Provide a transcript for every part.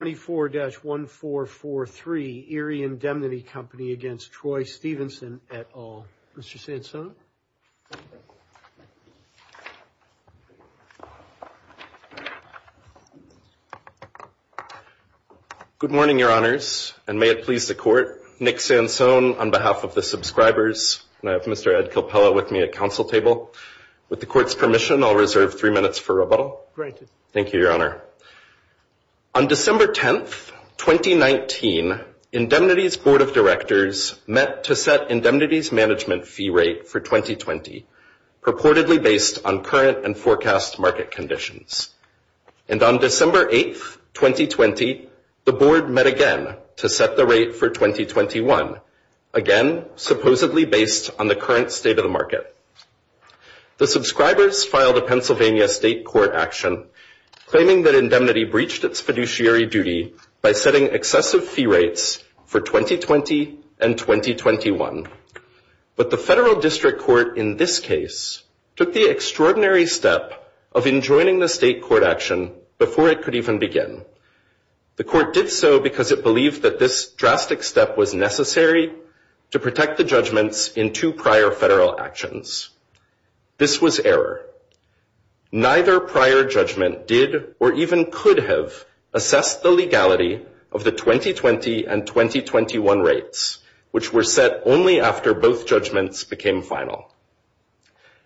at all. Mr. Sansone. Good morning, Your Honors, and may it please the Court. Nick Sansone, on behalf of the subscribers, and I have Mr. Ed Kilpella with me at council table. With the Court's permission, I'll reserve three minutes for rebuttal. Great. Thank you, Your Honor. On December 10th, 2019, Indemnity's Board of Directors met to set Indemnity's management fee rate for 2020, purportedly based on current and forecast market conditions. And on December 8th, 2020, the Board met again to set the rate for 2021, again, supposedly based on the current state of the market. The subscribers filed a Pennsylvania State Court action claiming that Indemnity breached its fiduciary duty by setting excessive fee rates for 2020 and 2021. But the federal district court, in this case, took the extraordinary step of enjoining the state court action before it could even begin. The court did so because it believed that this drastic step was necessary to protect the judgments in two prior federal actions. This was error. Neither prior judgment did or even could have assessed the legality of the 2020 and 2021 rates, which were set only after both judgments became final.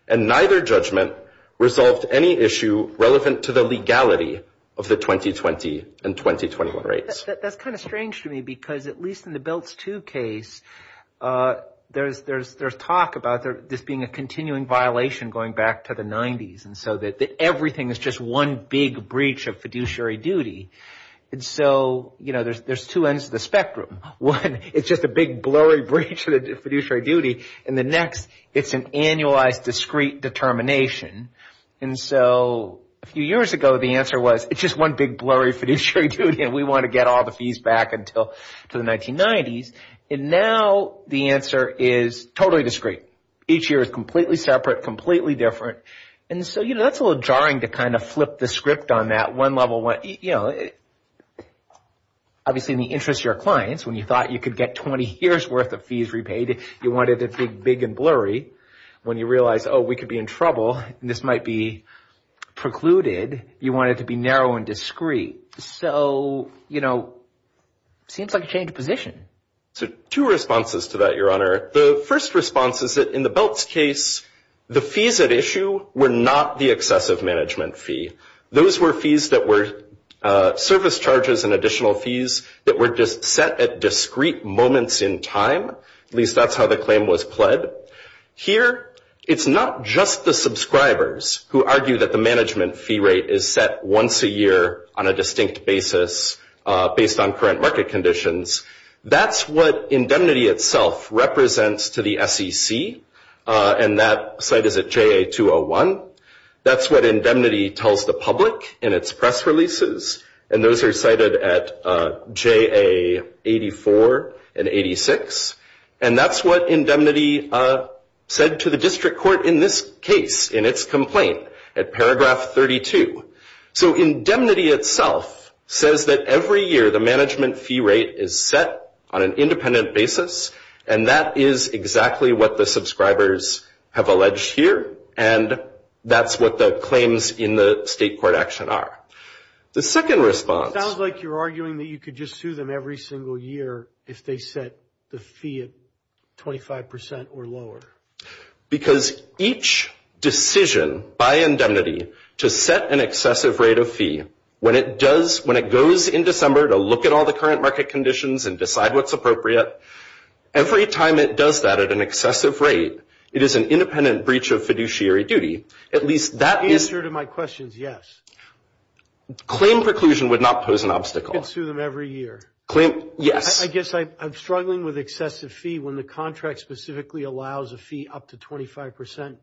And neither judgment resolved any issue relevant to the legality of the 2020 and 2021 rates. That's kind of strange to me because at least in the BILTS II case, there's talk about this being a continuing violation going back to the 90s and so that everything is just one big breach of fiduciary duty. And so, there's two ends of the spectrum. One, it's just a big blurry breach of the fiduciary duty. And the next, it's an annualized discrete determination. And so, a few years ago, the answer was, it's just one big blurry fiduciary duty and we want to get all the fees back to the 1990s. And now, the answer is totally discrete. Each year is completely separate, completely different. And so, that's a little jarring to kind of flip the script on that one level. Obviously, in the interest of your clients, when you thought you could get 20 years worth of fees repaid, you wanted it to be big and blurry. When you realize, oh, we could be in trouble and this might be precluded, you want it to be narrow and discrete. So, you know, it seems like a change of position. So, two responses to that, Your Honor. The first response is that in the BILTS case, the fees at issue were not the excessive management fee. Those were fees that were service charges and additional fees that were just set at discrete moments in time. At least that's how the claim was pled. Here, it's not just the subscribers who argue that the management fee rate is set once a year on a distinct basis based on current market conditions. That's what indemnity itself represents to the SEC. And that site is at JA-201. That's what indemnity tells the public in its press releases. And those are cited at JA-84 and 86. And that's what indemnity said to the district court in this case, in its complaint at paragraph 32. So, indemnity itself says that every year the management fee rate is set on an independent basis. And that is exactly what the subscribers have alleged here. And that's what the claims in the state court action are. The second response- Sounds like you're arguing that you could just sue them every single year if they set the fee at 25% or lower. Because each decision by indemnity to set an excessive rate of fee, when it goes in December to look at all the current market conditions and decide what's appropriate, every time it does that at an excessive rate, it is an independent breach of fiduciary duty. At least that is- To answer to my questions, yes. Claim preclusion would not pose an obstacle. You can sue them every year. Yes. I guess I'm struggling with excessive fee when the contract specifically allows a fee up to 25%.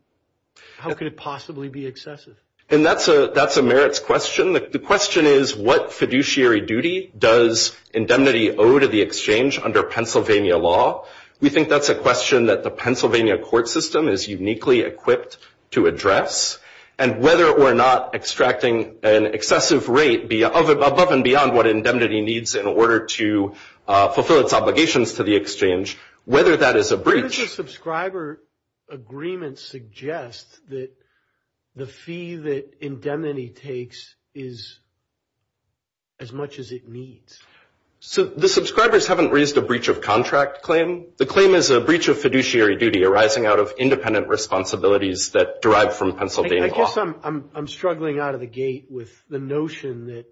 How could it possibly be excessive? And that's a merits question. The question is, what fiduciary duty does indemnity owe to the exchange under Pennsylvania law? We think that's a question that the Pennsylvania court system is uniquely equipped to address. And whether or not extracting an excessive rate above and beyond what indemnity needs in order to fulfill its obligations to the exchange, whether that is a breach- How does a subscriber agreement suggest that the fee that indemnity takes is as much as it needs? The subscribers haven't raised a breach of contract claim. The claim is a breach of fiduciary duty arising out of independent responsibilities that derive from Pennsylvania law. I guess I'm struggling out of the gate with the notion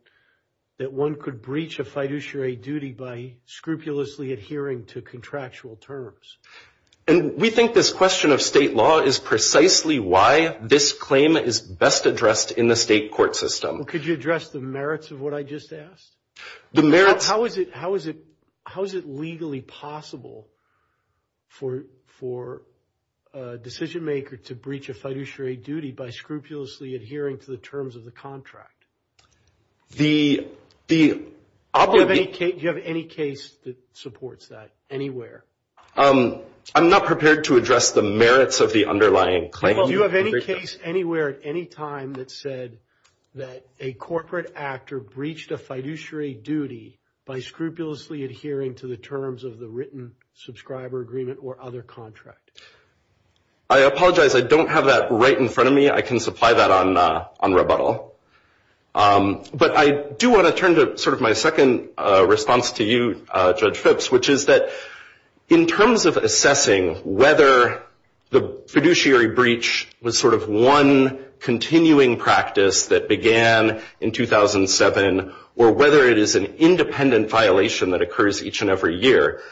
that one could breach a fiduciary duty by scrupulously adhering to contractual terms. And we think this question of state law is precisely why this claim is best addressed in the state court system. Could you address the merits of what I just asked? The merits- How is it legally possible for a decision maker to breach a fiduciary duty by scrupulously adhering to the terms of the contract? The- Do you have any case that supports that anywhere? I'm not prepared to address the merits of the underlying claim. Do you have any case anywhere at any time that said that a corporate actor breached a fiduciary duty by scrupulously adhering to the terms of the written subscriber agreement or other contract? I apologize. I don't have that right in front of me. I can supply that on rebuttal. But I do want to turn to sort of my second response to you, Judge Phipps, which is that in terms of assessing whether the fiduciary breach was sort of one continuing practice that began in 2007 or whether it is an independent violation that occurs each and every year,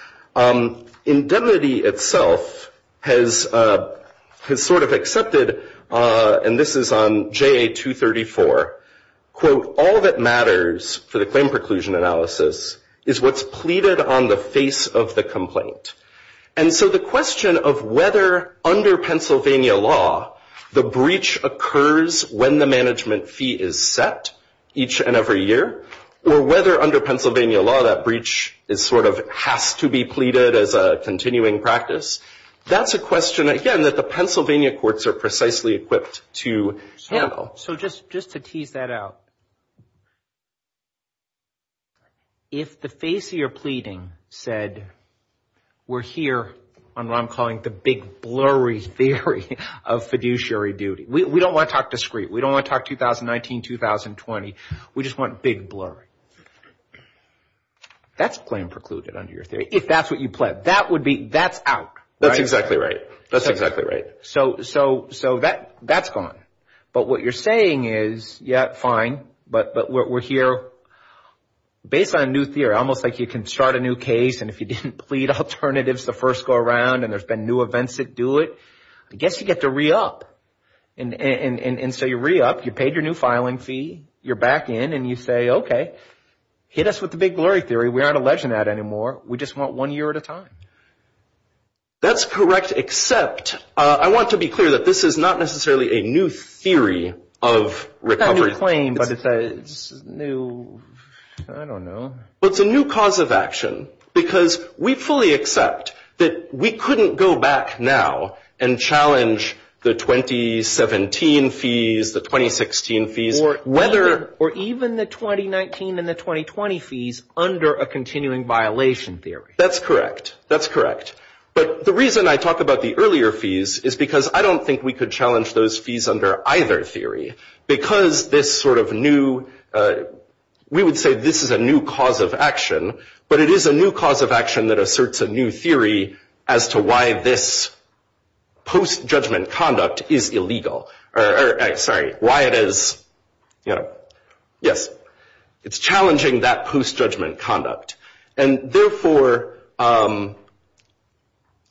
indemnity itself has sort of accepted, and this is on JA 234, quote, all that matters for the claim preclusion analysis is what's pleaded on the face of the complaint. And so the question of whether under Pennsylvania law the breach occurs when the management fee is set each and every year or whether under Pennsylvania law that breach is sort of has to be pleaded as a continuing practice, that's a question, again, that the Pennsylvania courts are precisely equipped to handle. So just to tease that out, if the face of your pleading said we're here on what I'm calling the big blurry theory of fiduciary duty, we don't want to talk discreet. We don't want to talk 2019, 2020. We just want big blurry. That's claim precluded under your theory, if that's what you pled. That would be, that's out, right? That's exactly right. That's exactly right. So that's gone. But what you're saying is, yeah, fine, but we're here based on a new theory, almost like you can start a new case and if you didn't plead alternatives the first go around and there's been new events that do it, I guess you get to re-up. And so you re-up, you paid your new filing fee, you're back in and you say, okay, hit us with the big blurry theory. We aren't alleging that anymore. We just want one year at a time. That's correct, except I want to be clear that this is not necessarily a new theory of recovery. It's not a new claim, but it's a new, I don't know. It's a new cause of action because we fully accept that we couldn't go back now and challenge the 2017 fees, the 2016 fees. Or even the 2019 and the 2020 fees under a continuing violation theory. That's correct, that's correct. But the reason I talk about the earlier fees is because I don't think we could challenge those fees under either theory because this sort of new, we would say this is a new cause of action, but it is a new cause of action that asserts a new theory as to why this post-judgment conduct is illegal, or sorry, why it is, you know, yes, it's challenging that post-judgment conduct. And therefore,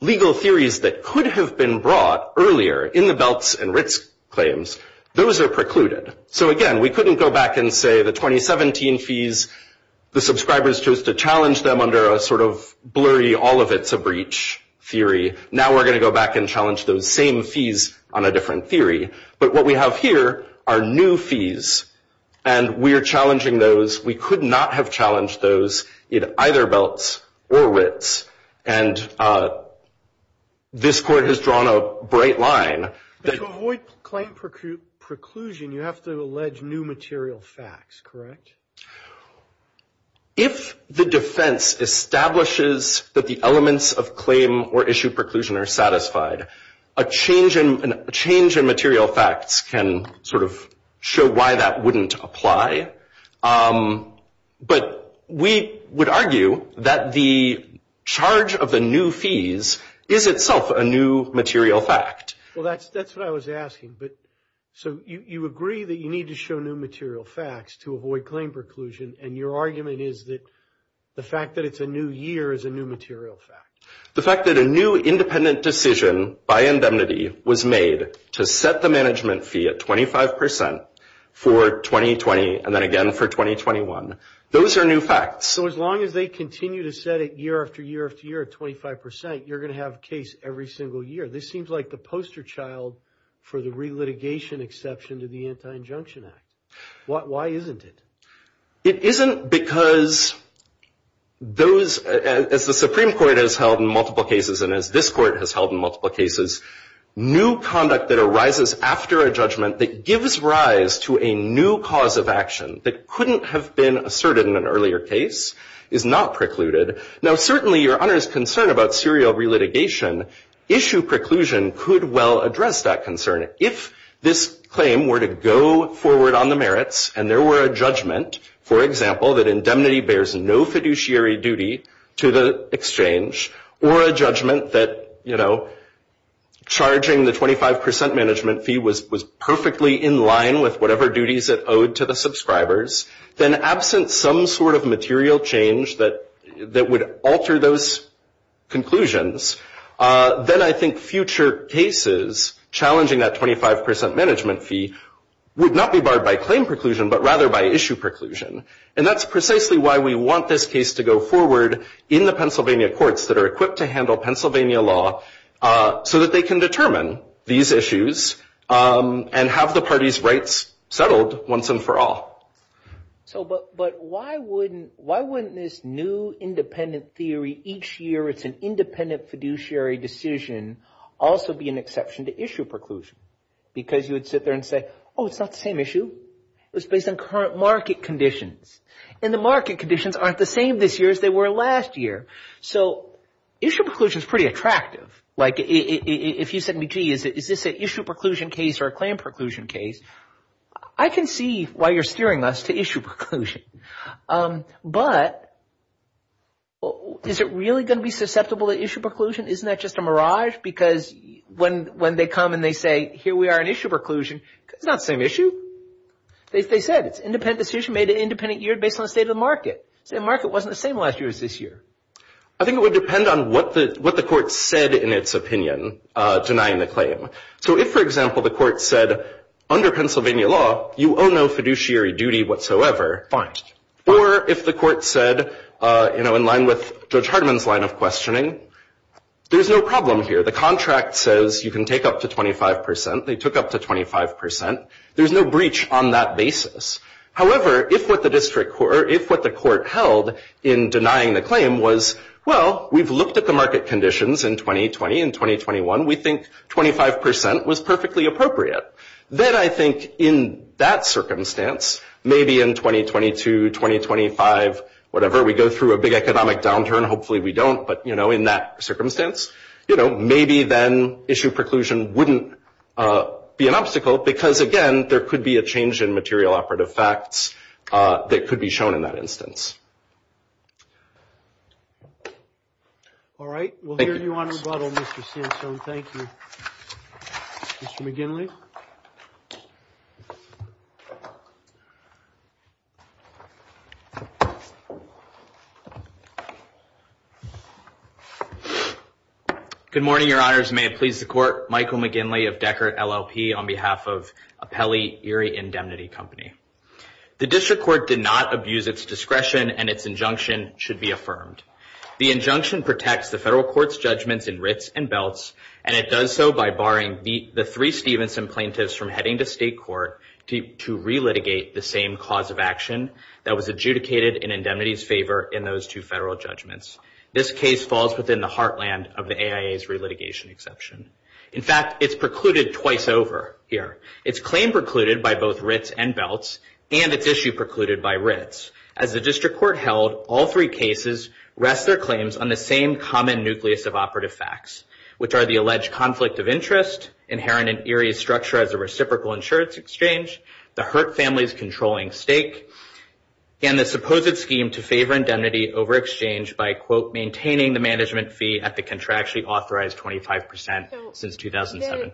legal theories that could have been brought earlier in the Belts and Ritz claims, those are precluded. So again, we couldn't go back and say the 2017 fees, the subscribers chose to challenge them under a sort of blurry, all of it's a breach theory. Now we're going to go back and challenge those same fees on a different theory. But what we have here are new fees. And we are challenging those. We could not have challenged those in either Belts or Ritz. And this Court has drawn a bright line. But to avoid claim preclusion, you have to allege new material facts, correct? If the defense establishes that the elements of claim or issue preclusion are satisfied, a change in material facts can sort of show why that wouldn't apply. But we would argue that the charge of the new fees is itself a new material fact. Well, that's what I was asking. So you agree that you need to show new material facts to avoid claim preclusion. And your argument is that the fact that it's a new year is a new material fact. The fact that a new independent decision by indemnity was made to set the management fee at 25% for 2020 and then again for 2021. Those are new facts. So as long as they continue to set it year after year after year at 25%, you're going to have a case every single year. This seems like the poster child for the relitigation exception to the Anti-Injunction Act. Why isn't it? It isn't because those, as the Supreme Court has held in multiple cases and as this Court has held in multiple cases, new conduct that arises after a judgment that gives rise to a new cause of action that couldn't have been asserted in an earlier case is not precluded. Now, certainly your Honor's concern about serial relitigation issue preclusion could well address that concern. If this claim were to go forward on the merits and there were a judgment, for example, that indemnity bears no fiduciary duty to the exchange or a judgment that, you know, charging the 25% management fee was perfectly in line with whatever duties it owed to the subscribers, then absent some sort of material change that would alter those conclusions, then I think future cases challenging that 25% management fee would not be barred by claim preclusion but rather by issue preclusion. And that's precisely why we want this case to go forward in the Pennsylvania courts that are equipped to handle Pennsylvania law so that they can determine these issues and have the parties' rights settled once and for all. So but why wouldn't this new independent theory each year it's an independent fiduciary decision also be an exception to issue preclusion? Because you would sit there and say, oh, it's not the same issue. It was based on current market conditions. And the market conditions aren't the same this year as they were last year. So issue preclusion is pretty attractive. Like if you said to me, gee, is this an issue preclusion case or a claim preclusion case, I can see why you're steering us to issue preclusion. But is it really going to be susceptible to issue preclusion? Isn't that just a mirage? Because when they come and they say, here we are in issue preclusion, it's not the same issue. They said it's an independent decision made in an independent year based on the state of the market. The market wasn't the same last year as this year. I think it would depend on what the court said in its opinion denying the claim. So if, for example, the court said, under Pennsylvania law, you owe no fiduciary duty whatsoever. Fine. Or if the court said, in line with Judge Hardiman's line of questioning, there's no problem here. The contract says you can take up to 25%. They took up to 25%. There's no breach on that basis. However, if what the court held in denying the claim was, well, we've looked at the market conditions in 2020 and 2021. We think 25% was perfectly appropriate. Then I think in that circumstance, maybe in 2022, 2025, whatever, we go through a big economic downturn. Hopefully we don't. But in that circumstance, maybe then issue preclusion wouldn't be an obstacle because, again, there could be a change in material operative facts that could be shown in that instance. All right. We'll hear you on rebuttal, Mr. Sansone. Thank you. Mr. McGinley. Good morning, Your Honors. May it please the Court. Michael McGinley of Deckert LLP on behalf of Apelli Erie Indemnity Company. The district court did not abuse its discretion, and its injunction should be affirmed. The injunction protects the federal court's judgments in writs and belts, and it does so by barring the three Stevenson plaintiffs from heading to state court to relitigate the same cause of action that was adjudicated in indemnity's favor in those two federal judgments. This case falls within the heartland of the AIA's relitigation exception. In fact, it's precluded twice over here. It's claim precluded by both writs and belts, and it's issue precluded by writs. As the district court held, all three cases rest their claims on the same common nucleus of operative facts, which are the alleged conflict of interest, inherent in Erie's structure as a reciprocal insurance exchange, the Hurt Family's controlling stake, and the supposed scheme to favor indemnity over exchange by, quote, maintaining the management fee at the contractually authorized 25 percent since 2007.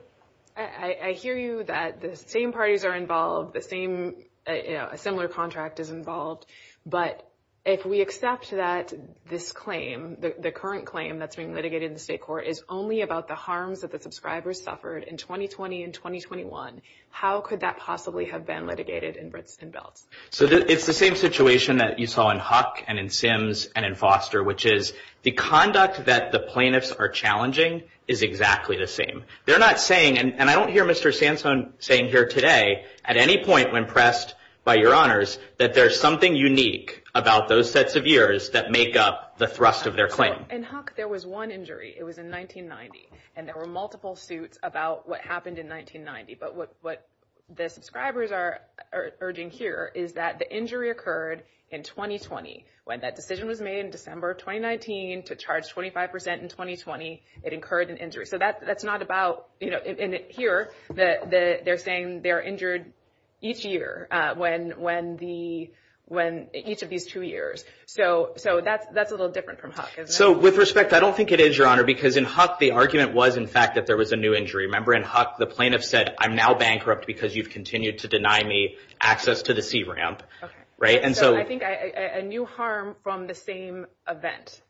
I hear you that the same parties are involved, a similar contract is involved, but if we accept that this claim, the current claim that's being litigated in the state court, is only about the harms that the subscribers suffered in 2020 and 2021, how could that possibly have been litigated in writs and belts? So it's the same situation that you saw in Huck and in Sims and in Foster, which is the conduct that the plaintiffs are challenging is exactly the same. They're not saying, and I don't hear Mr. Sansone saying here today, at any point when pressed by your honors, that there's something unique about those sets of years that make up the thrust of their claim. In Huck, there was one injury. It was in 1990, and there were multiple suits about what happened in 1990. But what the subscribers are urging here is that the injury occurred in 2020. When that decision was made in December of 2019 to charge 25 percent in 2020, it incurred an injury. So that's not about, you know, in here, they're saying they're injured each year when each of these two years. So that's a little different from Huck. So with respect, I don't think it is, Your Honor, because in Huck, the argument was, in fact, that there was a new injury. Remember, in Huck, the plaintiff said, I'm now bankrupt because you've continued to deny me access to the C-Ramp. Right. And so I think a new harm from the same event,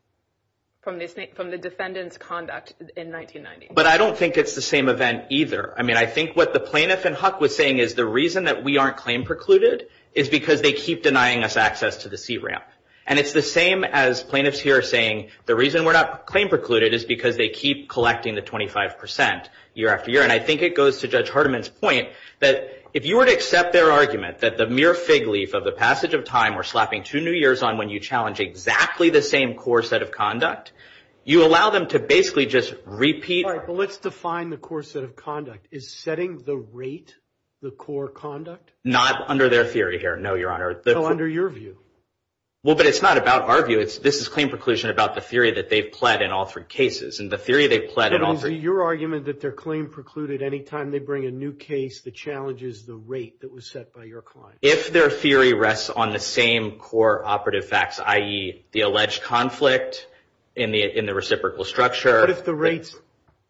from the defendant's conduct in 1990. But I don't think it's the same event either. I mean, I think what the plaintiff in Huck was saying is the reason that we aren't claim precluded is because they keep denying us access to the C-Ramp. And it's the same as plaintiffs here saying the reason we're not claim precluded is because they keep collecting the 25 percent year after year. And I think it goes to Judge Hardiman's point that if you were to accept their argument that the mere fig leaf of the passage of time or slapping two new years on when you challenge exactly the same core set of conduct, you allow them to basically just repeat. Let's define the core set of conduct is setting the rate, the core conduct. Not under their theory here. No, Your Honor. Well, under your view. Well, but it's not about our view. This is claim preclusion about the theory that they've pled in all three cases. And the theory they've pled in all three. Your argument that their claim precluded any time they bring a new case that challenges the rate that was set by your client. If their theory rests on the same core operative facts, i.e., the alleged conflict in the reciprocal structure. What if the rate's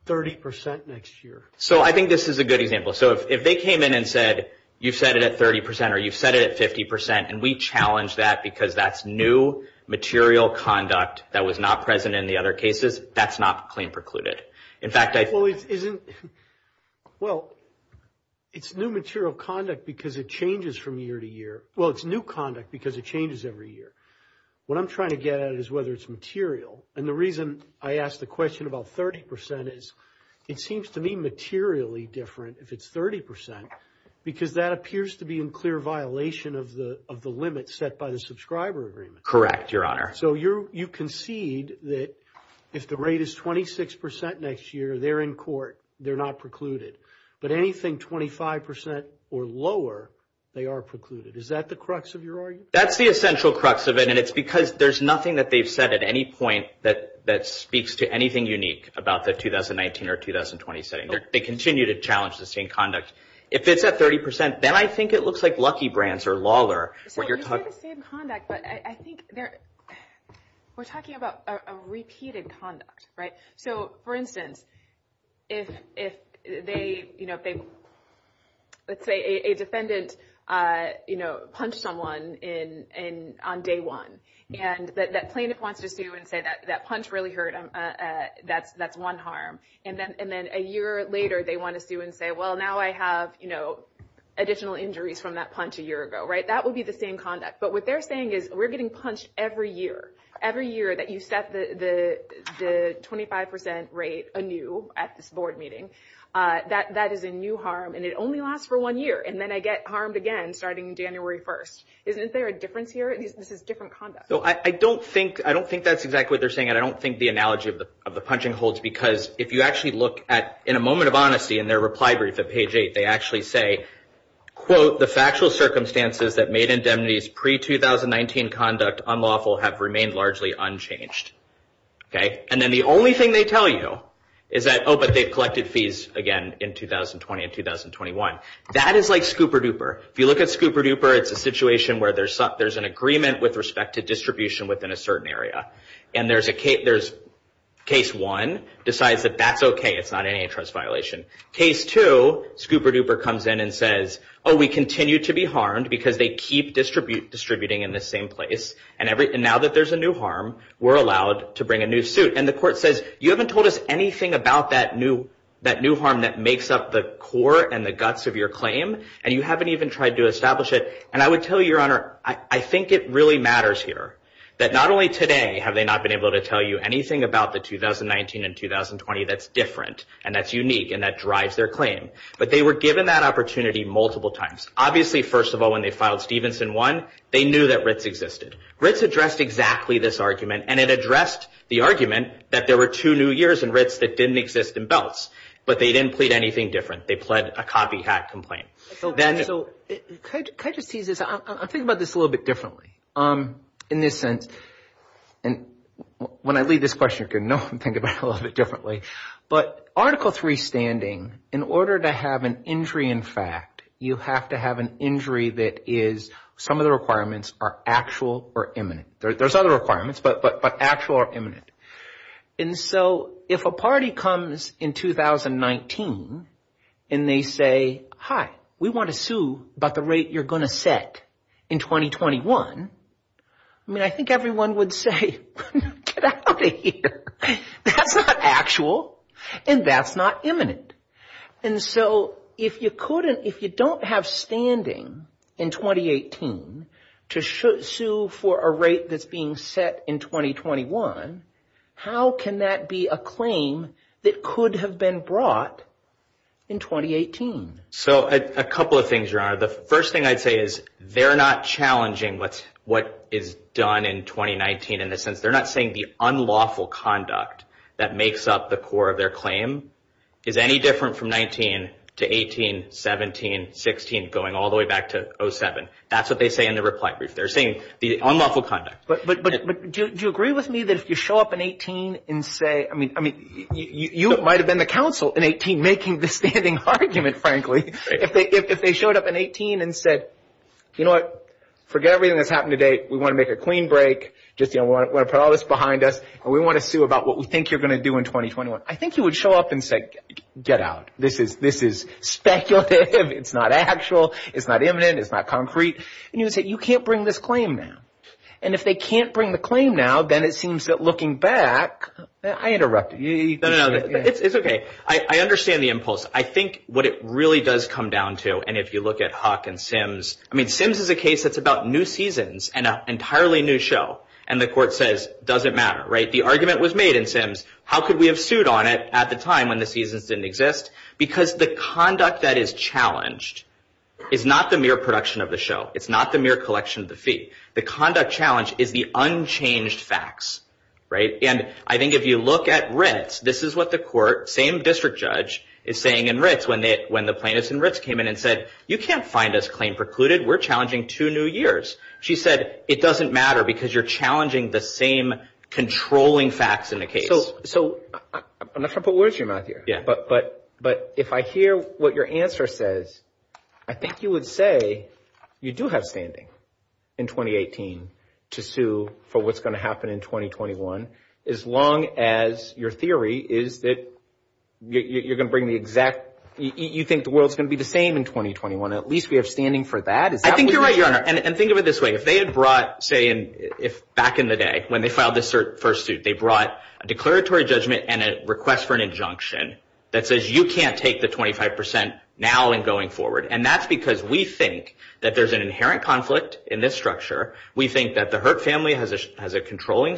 30 percent next year? So I think this is a good example. So if they came in and said, you've set it at 30 percent or you've set it at 50 percent, and we challenge that because that's new material conduct that was not present in the other cases, that's not claim precluded. In fact, I think. Well, it's new material conduct because it changes from year to year. Well, it's new conduct because it changes every year. What I'm trying to get at is whether it's material. And the reason I ask the question about 30 percent is it seems to me materially different if it's 30 percent because that appears to be in clear violation of the limit set by the subscriber agreement. Correct, Your Honor. So you concede that if the rate is 26 percent next year, they're in court, they're not precluded. But anything 25 percent or lower, they are precluded. Is that the crux of your argument? That's the essential crux of it. And it's because there's nothing that they've said at any point that speaks to anything unique about the 2019 or 2020 setting. They continue to challenge the same conduct. If it's at 30 percent, then I think it looks like Lucky Brands or Lawler. So you're talking about the same conduct, but I think we're talking about a repeated conduct, right? So, for instance, let's say a defendant punched someone on day one. And that plaintiff wants to sue and say that punch really hurt him, that's one harm. And then a year later, they want to sue and say, well, now I have additional injuries from that punch a year ago, right? That would be the same conduct. But what they're saying is we're getting punched every year. Every year that you set the 25 percent rate anew at this board meeting, that is a new harm. And it only lasts for one year. And then I get harmed again starting January 1st. Isn't there a difference here? This is different conduct. I don't think that's exactly what they're saying. And I don't think the analogy of the punching holds. Because if you actually look at, in a moment of honesty, in their reply brief at page 8, they actually say, quote, the factual circumstances that made indemnities pre-2019 conduct unlawful have remained largely unchanged. And then the only thing they tell you is that, oh, but they've collected fees again in 2020 and 2021. That is like scooper-dooper. If you look at scooper-dooper, it's a situation where there's an agreement with respect to distribution within a certain area. And there's case one decides that that's OK, it's not an antitrust violation. Case two, scooper-dooper comes in and says, oh, we continue to be harmed because they keep distributing in the same place. And now that there's a new harm, we're allowed to bring a new suit. And the court says, you haven't told us anything about that new harm that makes up the core and the guts of your claim. And you haven't even tried to establish it. And I would tell you, Your Honor, I think it really matters here that not only today have they not been able to tell you anything about the 2019 and 2020 that's different and that's unique and that drives their claim, but they were given that opportunity multiple times. Obviously, first of all, when they filed Stevenson 1, they knew that RITs existed. RITs addressed exactly this argument. And it addressed the argument that there were two new years in RITs that didn't exist in belts, but they didn't plead anything different. They pled a copycat complaint. So can I just tease this? I'm thinking about this a little bit differently in this sense. And when I leave this question, you're going to know I'm thinking about it a little bit differently. But Article III standing, in order to have an injury in fact, you have to have an injury that is some of the requirements are actual or imminent. There's other requirements, but actual or imminent. And so if a party comes in 2019 and they say, hi, we want to sue about the rate you're going to set in 2021, I mean, I think everyone would say, get out of here. That's not actual and that's not imminent. And so if you couldn't, if you don't have standing in 2018 to sue for a rate that's being set in 2021, how can that be a claim that could have been brought in 2018? So a couple of things, Your Honor. The first thing I'd say is they're not challenging what is done in 2019 in the sense, they're not saying the unlawful conduct that makes up the core of their claim is any different from 19 to 18, 17, 16, going all the way back to 07. That's what they say in the reply brief. They're saying the unlawful conduct. But do you agree with me that if you show up in 18 and say, I mean, you might have been the counsel in 18 making the standing argument, frankly. If they showed up in 18 and said, you know what, forget everything that's happened to date. We want to make a clean break. Just want to put all this behind us. And we want to sue about what we think you're going to do in 2021. I think you would show up and say, get out. This is speculative. It's not actual. It's not imminent. It's not concrete. And you would say, you can't bring this claim now. And if they can't bring the claim now, then it seems that looking back, I interrupted you. It's OK. I understand the impulse. I think what it really does come down to, and if you look at Huck and Sims, I mean, Sims is a case that's about new seasons and an entirely new show. And the court says, doesn't matter. The argument was made in Sims. How could we have sued on it at the time when the seasons didn't exist? Because the conduct that is challenged is not the mere production of the show. It's not the mere collection of the fee. The conduct challenge is the unchanged facts. And I think if you look at Ritz, this is what the court, same district judge, is saying in Ritz when the plaintiffs in Ritz came in and said, you can't find this claim precluded. We're challenging two new years. She said, it doesn't matter because you're challenging the same controlling facts in the case. So I'm not trying to put words in your mouth here. But if I hear what your answer says, I think you would say you do have standing in 2018 to sue for what's going to happen in 2021, as long as your theory is that you're going to bring the exact, you think the world's going to be the same in 2021. At least we have standing for that. I think you're right, Your Honor. And think of it this way. If they had brought, say, back in the day when they filed this first suit, they brought a declaratory judgment and a request for an injunction that says you can't take the 25% now and going forward. And that's because we think that there's an inherent conflict in this structure. We think that the Hurt family has a controlling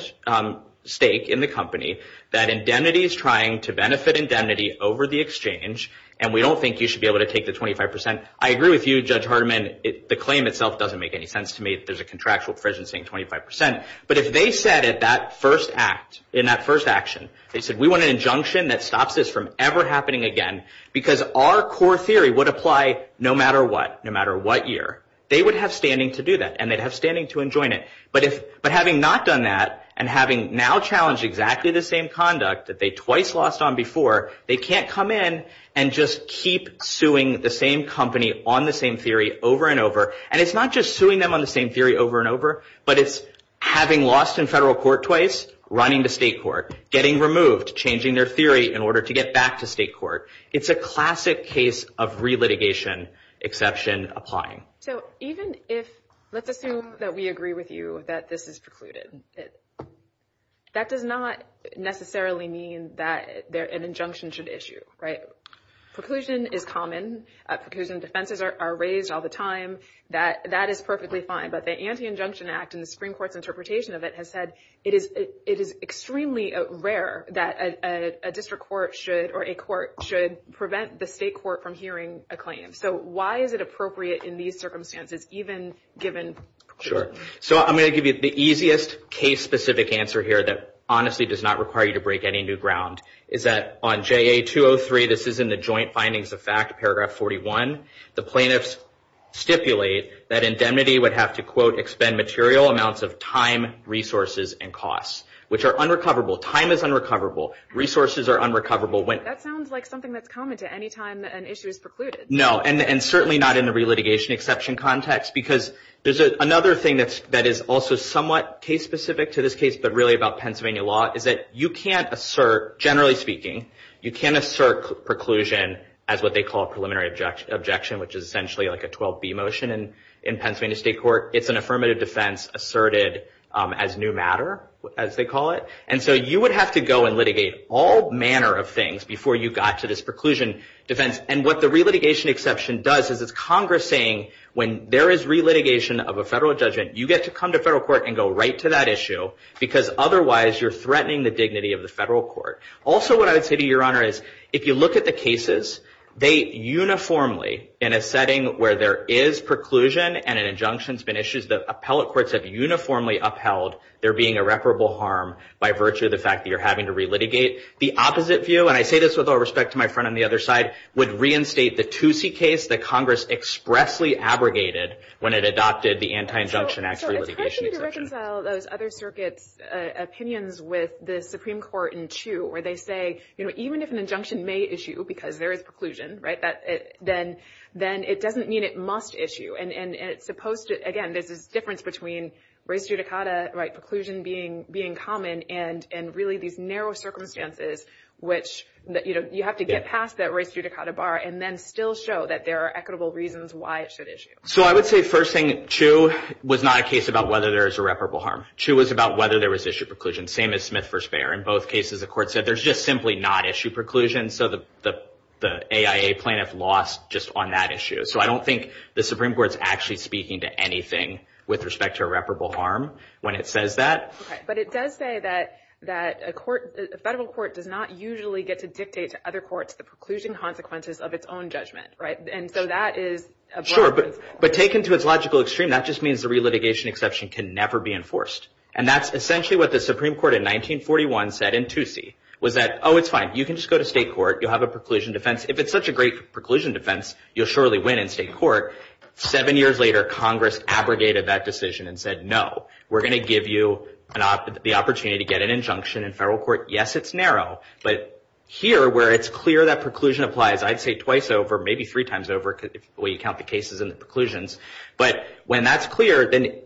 stake in the company, that indemnity is trying to benefit indemnity over the exchange, and we don't think you should be able to take the 25%. I agree with you, Judge Hardiman. The claim itself doesn't make any sense to me that there's a contractual provision saying 25%. But if they said in that first action, they said we want an injunction that stops this from ever happening again, because our core theory would apply no matter what, no matter what year. They would have standing to do that, and they'd have standing to enjoin it. But having not done that and having now challenged exactly the same conduct that they twice lost on before, they can't come in and just keep suing the same company on the same theory over and over. And it's not just suing them on the same theory over and over, but it's having lost in federal court twice, running to state court, getting removed, changing their theory in order to get back to state court. It's a classic case of relitigation exception applying. So even if, let's assume that we agree with you that this is precluded, that does not necessarily mean that an injunction should issue, right? Preclusion is common. Preclusion defenses are raised all the time. That is perfectly fine, but the Anti-Injunction Act and the Supreme Court's interpretation of it has said it is extremely rare that a district court should or a court should prevent the state court from hearing a claim. So why is it appropriate in these circumstances, even given preclusion? Sure. So I'm going to give you the easiest case-specific answer here that honestly does not require you to break any new ground, is that on JA 203, this is in the Joint Findings of Fact, paragraph 41, the plaintiffs stipulate that indemnity would have to, quote, expend material amounts of time, resources, and costs, which are unrecoverable. Time is unrecoverable. Resources are unrecoverable. That sounds like something that's common to any time an issue is precluded. No, and certainly not in the relitigation exception context, because there's another thing that is also somewhat case-specific to this case, but really about Pennsylvania law, is that you can't assert, generally speaking, you can't assert preclusion as what they call a preliminary objection, which is essentially like a 12B motion in Pennsylvania state court. It's an affirmative defense asserted as new matter, as they call it. And so you would have to go and litigate all manner of things before you got to this preclusion defense. And what the relitigation exception does is it's Congress saying, when there is relitigation of a federal judgment, you get to come to federal court and go right to that issue, because otherwise you're threatening the dignity of the federal court. Also what I would say to you, Your Honor, is if you look at the cases, they uniformly, in a setting where there is preclusion and an injunction's been issued, the appellate courts have uniformly upheld there being irreparable harm by virtue of the fact that you're having to relitigate. The opposite view, and I say this with all respect to my friend on the other side, would reinstate the Toosie case that Congress expressly abrogated when it adopted the Anti-Injunction Act's relitigation exception. So it's hard for me to reconcile those other circuits' opinions with the Supreme Court in Chu, where they say, you know, even if an injunction may issue, because there is preclusion, right, then it doesn't mean it must issue. And it's supposed to, again, there's this difference between res judicata, right, which, you know, you have to get past that res judicata bar and then still show that there are equitable reasons why it should issue. So I would say, first thing, Chu was not a case about whether there is irreparable harm. Chu was about whether there was issue preclusion, same as Smith v. Bayer. In both cases, the court said there's just simply not issue preclusion, so the AIA plaintiff lost just on that issue. So I don't think the Supreme Court's actually speaking to anything with respect to irreparable harm when it says that. But it does say that a federal court does not usually get to dictate to other courts the preclusion consequences of its own judgment, right? And so that is a broad principle. Sure, but taken to its logical extreme, that just means the relitigation exception can never be enforced. And that's essentially what the Supreme Court in 1941 said in 2C, was that, oh, it's fine. You can just go to state court. You'll have a preclusion defense. If it's such a great preclusion defense, you'll surely win in state court. Seven years later, Congress abrogated that decision and said, no, we're going to give you the opportunity to get an injunction in federal court. Yes, it's narrow. But here, where it's clear that preclusion applies, I'd say twice over, maybe three times over when you count the cases and the preclusions. But when that's clear, then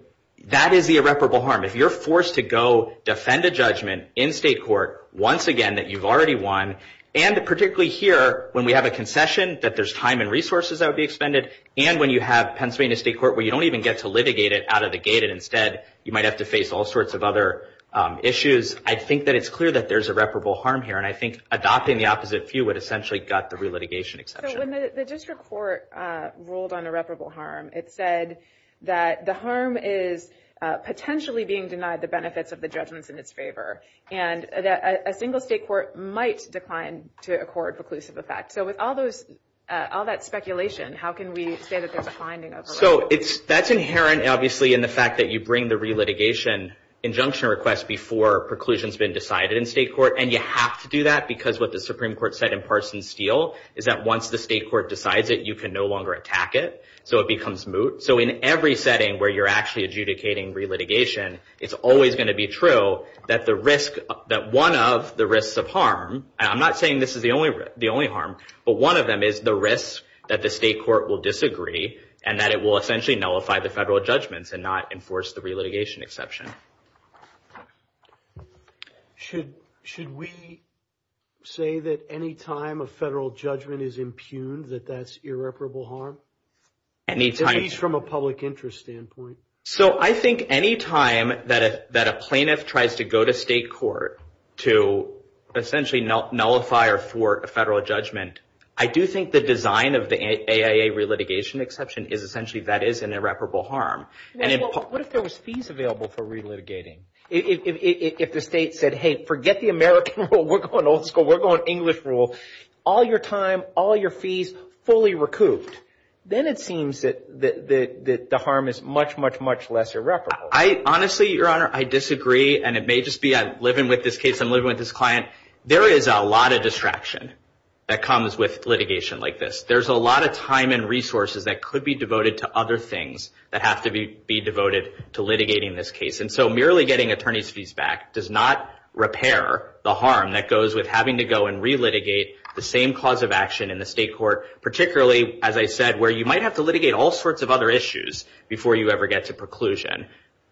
that is the irreparable harm. If you're forced to go defend a judgment in state court once again that you've already won, and particularly here when we have a concession, that there's time and resources that would be expended, and when you have Pennsylvania state court where you don't even get to litigate it out of the gate and instead you might have to face all sorts of other issues, I think that it's clear that there's irreparable harm here. And I think adopting the opposite view would essentially gut the relitigation exception. So when the district court ruled on irreparable harm, it said that the harm is potentially being denied the benefits of the judgments in its favor, and that a single state court might decline to accord preclusive effect. So with all that speculation, how can we say that there's a finding of irreparable harm? So that's inherent, obviously, in the fact that you bring the relitigation injunction request before preclusion's been decided in state court. And you have to do that because what the Supreme Court said in Parsons Steel is that once the state court decides it, you can no longer attack it. So it becomes moot. So in every setting where you're actually adjudicating relitigation, it's always going to be true that one of the risks of harm, and I'm not saying this is the only harm, but one of them is the risk that the state court will disagree and that it will essentially nullify the federal judgments and not enforce the relitigation exception. Should we say that any time a federal judgment is impugned that that's irreparable harm? Any time. At least from a public interest standpoint. So I think any time that a plaintiff tries to go to state court to essentially nullify or thwart a federal judgment, I do think the design of the AIA relitigation exception is essentially that is an irreparable harm. What if there was fees available for relitigating? If the state said, hey, forget the American rule. We're going old school. We're going English rule. All your time, all your fees fully recouped. Then it seems that the harm is much, much, much less irreparable. Honestly, Your Honor, I disagree, and it may just be I'm living with this case. I'm living with this client. There is a lot of distraction that comes with litigation like this. There's a lot of time and resources that could be devoted to other things that have to be devoted to litigating this case. And so merely getting attorney's fees back does not repair the harm that goes with having to go and relitigate the same cause of action in the state court, particularly, as I said, where you might have to litigate all sorts of other issues before you ever get to preclusion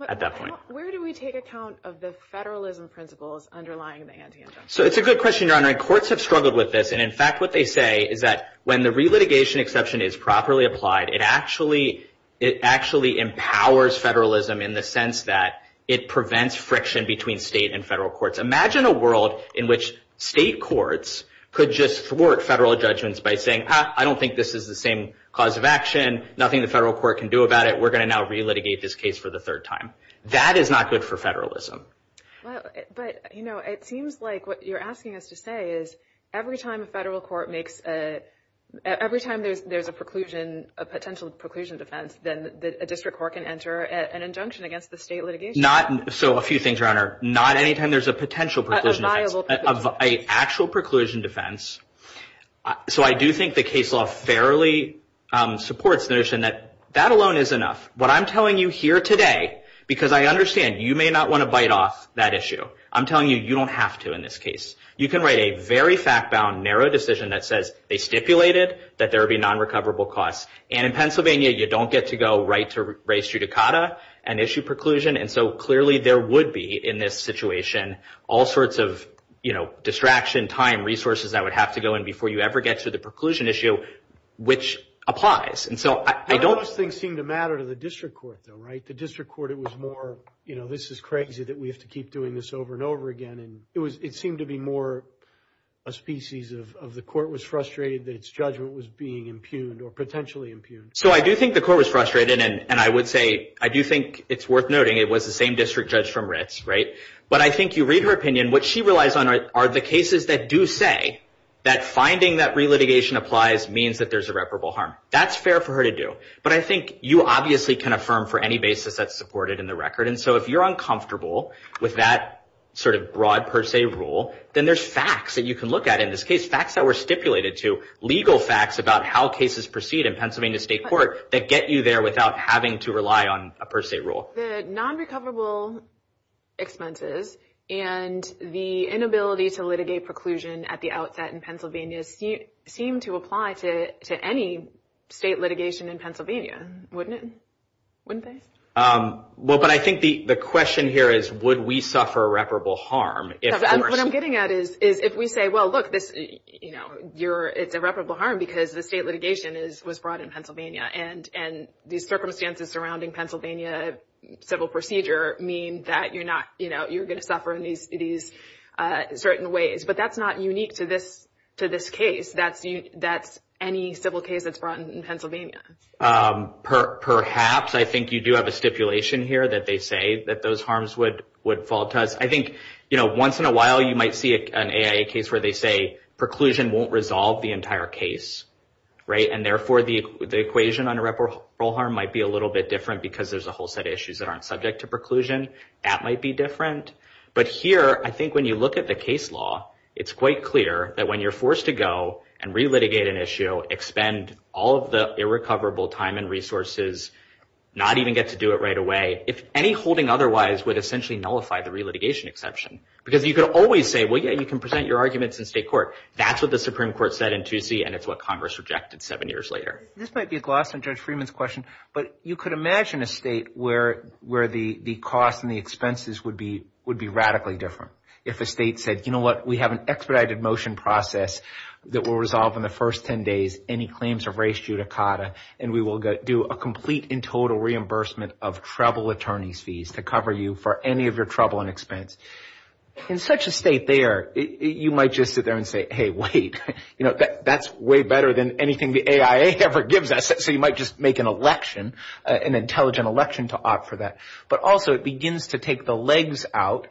at that point. Where do we take account of the federalism principles underlying the ante-index? It's a good question, Your Honor. Courts have struggled with this. In fact, what they say is that when the relitigation exception is properly applied, it actually empowers federalism in the sense that it prevents friction between state and federal courts. Imagine a world in which state courts could just thwart federal judgments by saying, I don't think this is the same cause of action. Nothing the federal court can do about it. We're going to now relitigate this case for the third time. That is not good for federalism. But, you know, it seems like what you're asking us to say is every time a federal court makes a – every time there's a preclusion, a potential preclusion defense, then a district court can enter an injunction against the state litigation. Not – so a few things, Your Honor. Not any time there's a potential preclusion defense. A viable preclusion defense. An actual preclusion defense. So I do think the case law fairly supports the notion that that alone is enough. What I'm telling you here today, because I understand you may not want to bite off that issue, I'm telling you you don't have to in this case. You can write a very fact-bound, narrow decision that says they stipulated that there would be non-recoverable costs. And in Pennsylvania, you don't get to go right to res judicata and issue preclusion. And so clearly there would be in this situation all sorts of, you know, you have to go in before you ever get to the preclusion issue, which applies. And so I don't – None of those things seem to matter to the district court, though, right? The district court, it was more, you know, this is crazy that we have to keep doing this over and over again. And it seemed to be more a species of the court was frustrated that its judgment was being impugned or potentially impugned. So I do think the court was frustrated, and I would say I do think it's worth noting it was the same district judge from Ritz, right? But I think you read her opinion. And what she relies on are the cases that do say that finding that re-litigation applies means that there's irreparable harm. That's fair for her to do. But I think you obviously can affirm for any basis that's supported in the record. And so if you're uncomfortable with that sort of broad per se rule, then there's facts that you can look at in this case, facts that were stipulated to legal facts about how cases proceed in Pennsylvania State Court that get you there without having to rely on a per se rule. So the non-recoverable expenses and the inability to litigate preclusion at the outset in Pennsylvania seem to apply to any state litigation in Pennsylvania, wouldn't it? Wouldn't they? Well, but I think the question here is would we suffer irreparable harm? What I'm getting at is if we say, well, look, it's irreparable harm because the state litigation was brought in Pennsylvania and these circumstances surrounding Pennsylvania civil procedure mean that you're going to suffer in these certain ways. But that's not unique to this case. That's any civil case that's brought in Pennsylvania. Perhaps. I think you do have a stipulation here that they say that those harms would fall to us. I think once in a while you might see an AIA case where they say preclusion won't resolve the entire case. And therefore, the equation on irreparable harm might be a little bit different because there's a whole set of issues that aren't subject to preclusion. That might be different. But here, I think when you look at the case law, it's quite clear that when you're forced to go and re-litigate an issue, expend all of the irrecoverable time and resources, not even get to do it right away, if any holding otherwise would essentially nullify the re-litigation exception. Because you could always say, well, yeah, you can present your arguments in state court. That's what the Supreme Court said in Toosie, and it's what Congress rejected seven years later. This might be a gloss on Judge Freeman's question, but you could imagine a state where the cost and the expenses would be radically different. If a state said, you know what, we have an expedited motion process that will resolve in the first ten days any claims of race judicata, and we will do a complete and total reimbursement of trouble attorney's fees to cover you for any of your trouble and expense. In such a state there, you might just sit there and say, hey, wait. You know, that's way better than anything the AIA ever gives us. So you might just make an election, an intelligent election to opt for that. But also it begins to take the legs out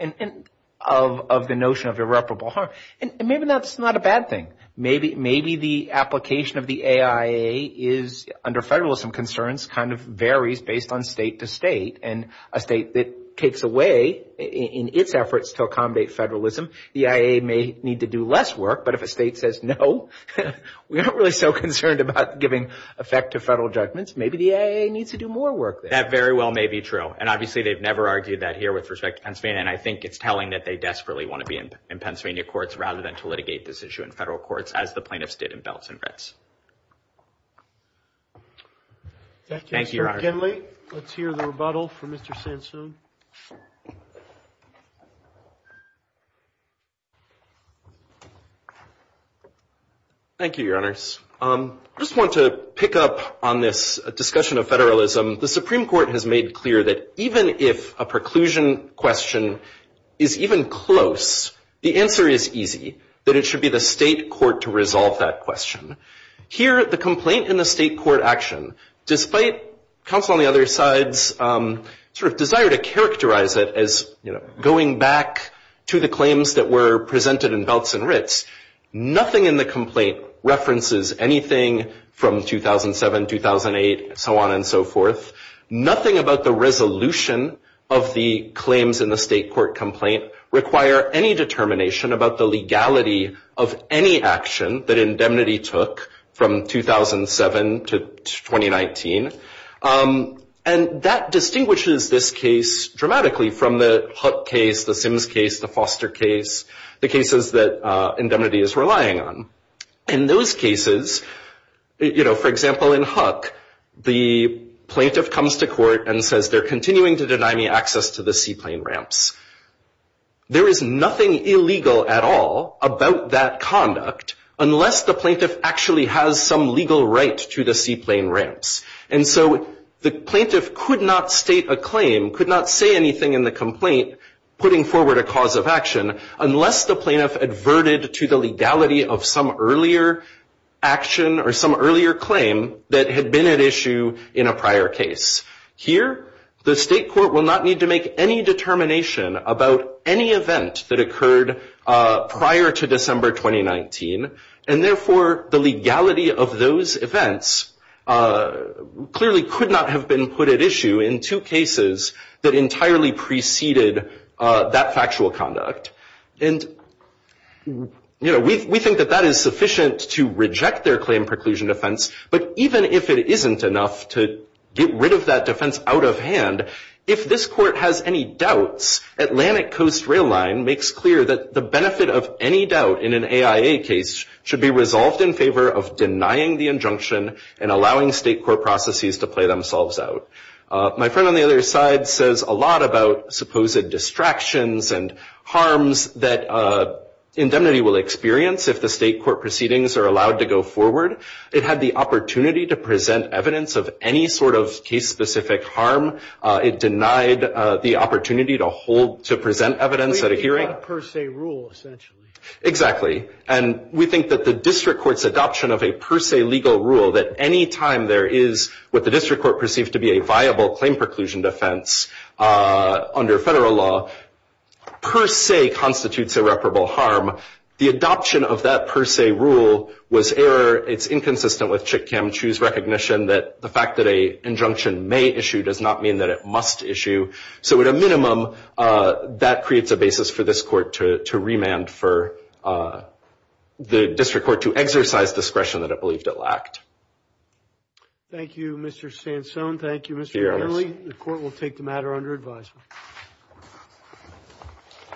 of the notion of irreparable harm. And maybe that's not a bad thing. Maybe the application of the AIA is, under federalism concerns, kind of varies based on state to state. And a state that takes away in its efforts to accommodate federalism, the AIA may need to do less work. But if a state says, no, we aren't really so concerned about giving effective federal judgments, maybe the AIA needs to do more work there. That very well may be true. And obviously they've never argued that here with respect to Pennsylvania. And I think it's telling that they desperately want to be in Pennsylvania courts rather than to litigate this issue in federal courts, as the plaintiffs did in Belz and Ritz. Thank you, Mr. Kinley. Let's hear the rebuttal from Mr. Sansone. Thank you, Your Honors. I just want to pick up on this discussion of federalism. The Supreme Court has made clear that even if a preclusion question is even close, the answer is easy, that it should be the state court to resolve that question. Here, the complaint in the state court action, despite counsel on the other side's sort of desire to characterize it as going back to the claims that were presented in Belz and Ritz, nothing in the complaint references anything from 2007, 2008, so on and so forth. Nothing about the resolution of the claims in the state court complaint require any determination about the legality of any action that indemnity took from 2007 to 2019. And that distinguishes this case dramatically from the Huck case, the Sims case, the Foster case, the cases that indemnity is relying on. In those cases, you know, for example, in Huck, the plaintiff comes to court and says they're continuing to deny me access to the seaplane ramps. There is nothing illegal at all about that conduct unless the plaintiff actually has some legal right to the seaplane ramps. And so the plaintiff could not state a claim, could not say anything in the complaint putting forward a cause of action, unless the plaintiff adverted to the legality of some earlier action or some earlier claim that had been at issue in a prior case. Here, the state court will not need to make any determination about any event that occurred prior to December 2019. And therefore, the legality of those events clearly could not have been put at issue in two cases that entirely preceded that factual conduct. And, you know, we think that that is sufficient to reject their claim preclusion defense. But even if it isn't enough to get rid of that defense out of hand, if this court has any doubts, Atlantic Coast Rail Line makes clear that the benefit of any doubt in an AIA case should be resolved in favor of denying the injunction and allowing state court processes to play themselves out. My friend on the other side says a lot about supposed distractions and harms that indemnity will experience if the state court proceedings are allowed to go forward. It had the opportunity to present evidence of any sort of case-specific harm. It denied the opportunity to hold, to present evidence at a hearing. It's a per se rule, essentially. Exactly. And we think that the district court's adoption of a per se legal rule, that any time there is what the district court perceives to be a viable claim preclusion defense under Federal law, per se constitutes irreparable harm. The adoption of that per se rule was error. It's inconsistent with Chick Kam Choo's recognition that the fact that an injunction may issue does not mean that it must issue. So at a minimum, that creates a basis for this court to remand for the district court to exercise discretion that it believed it lacked. Thank you, Mr. Sansone. Thank you, Mr. Kenley. The court will take the matter under advisement.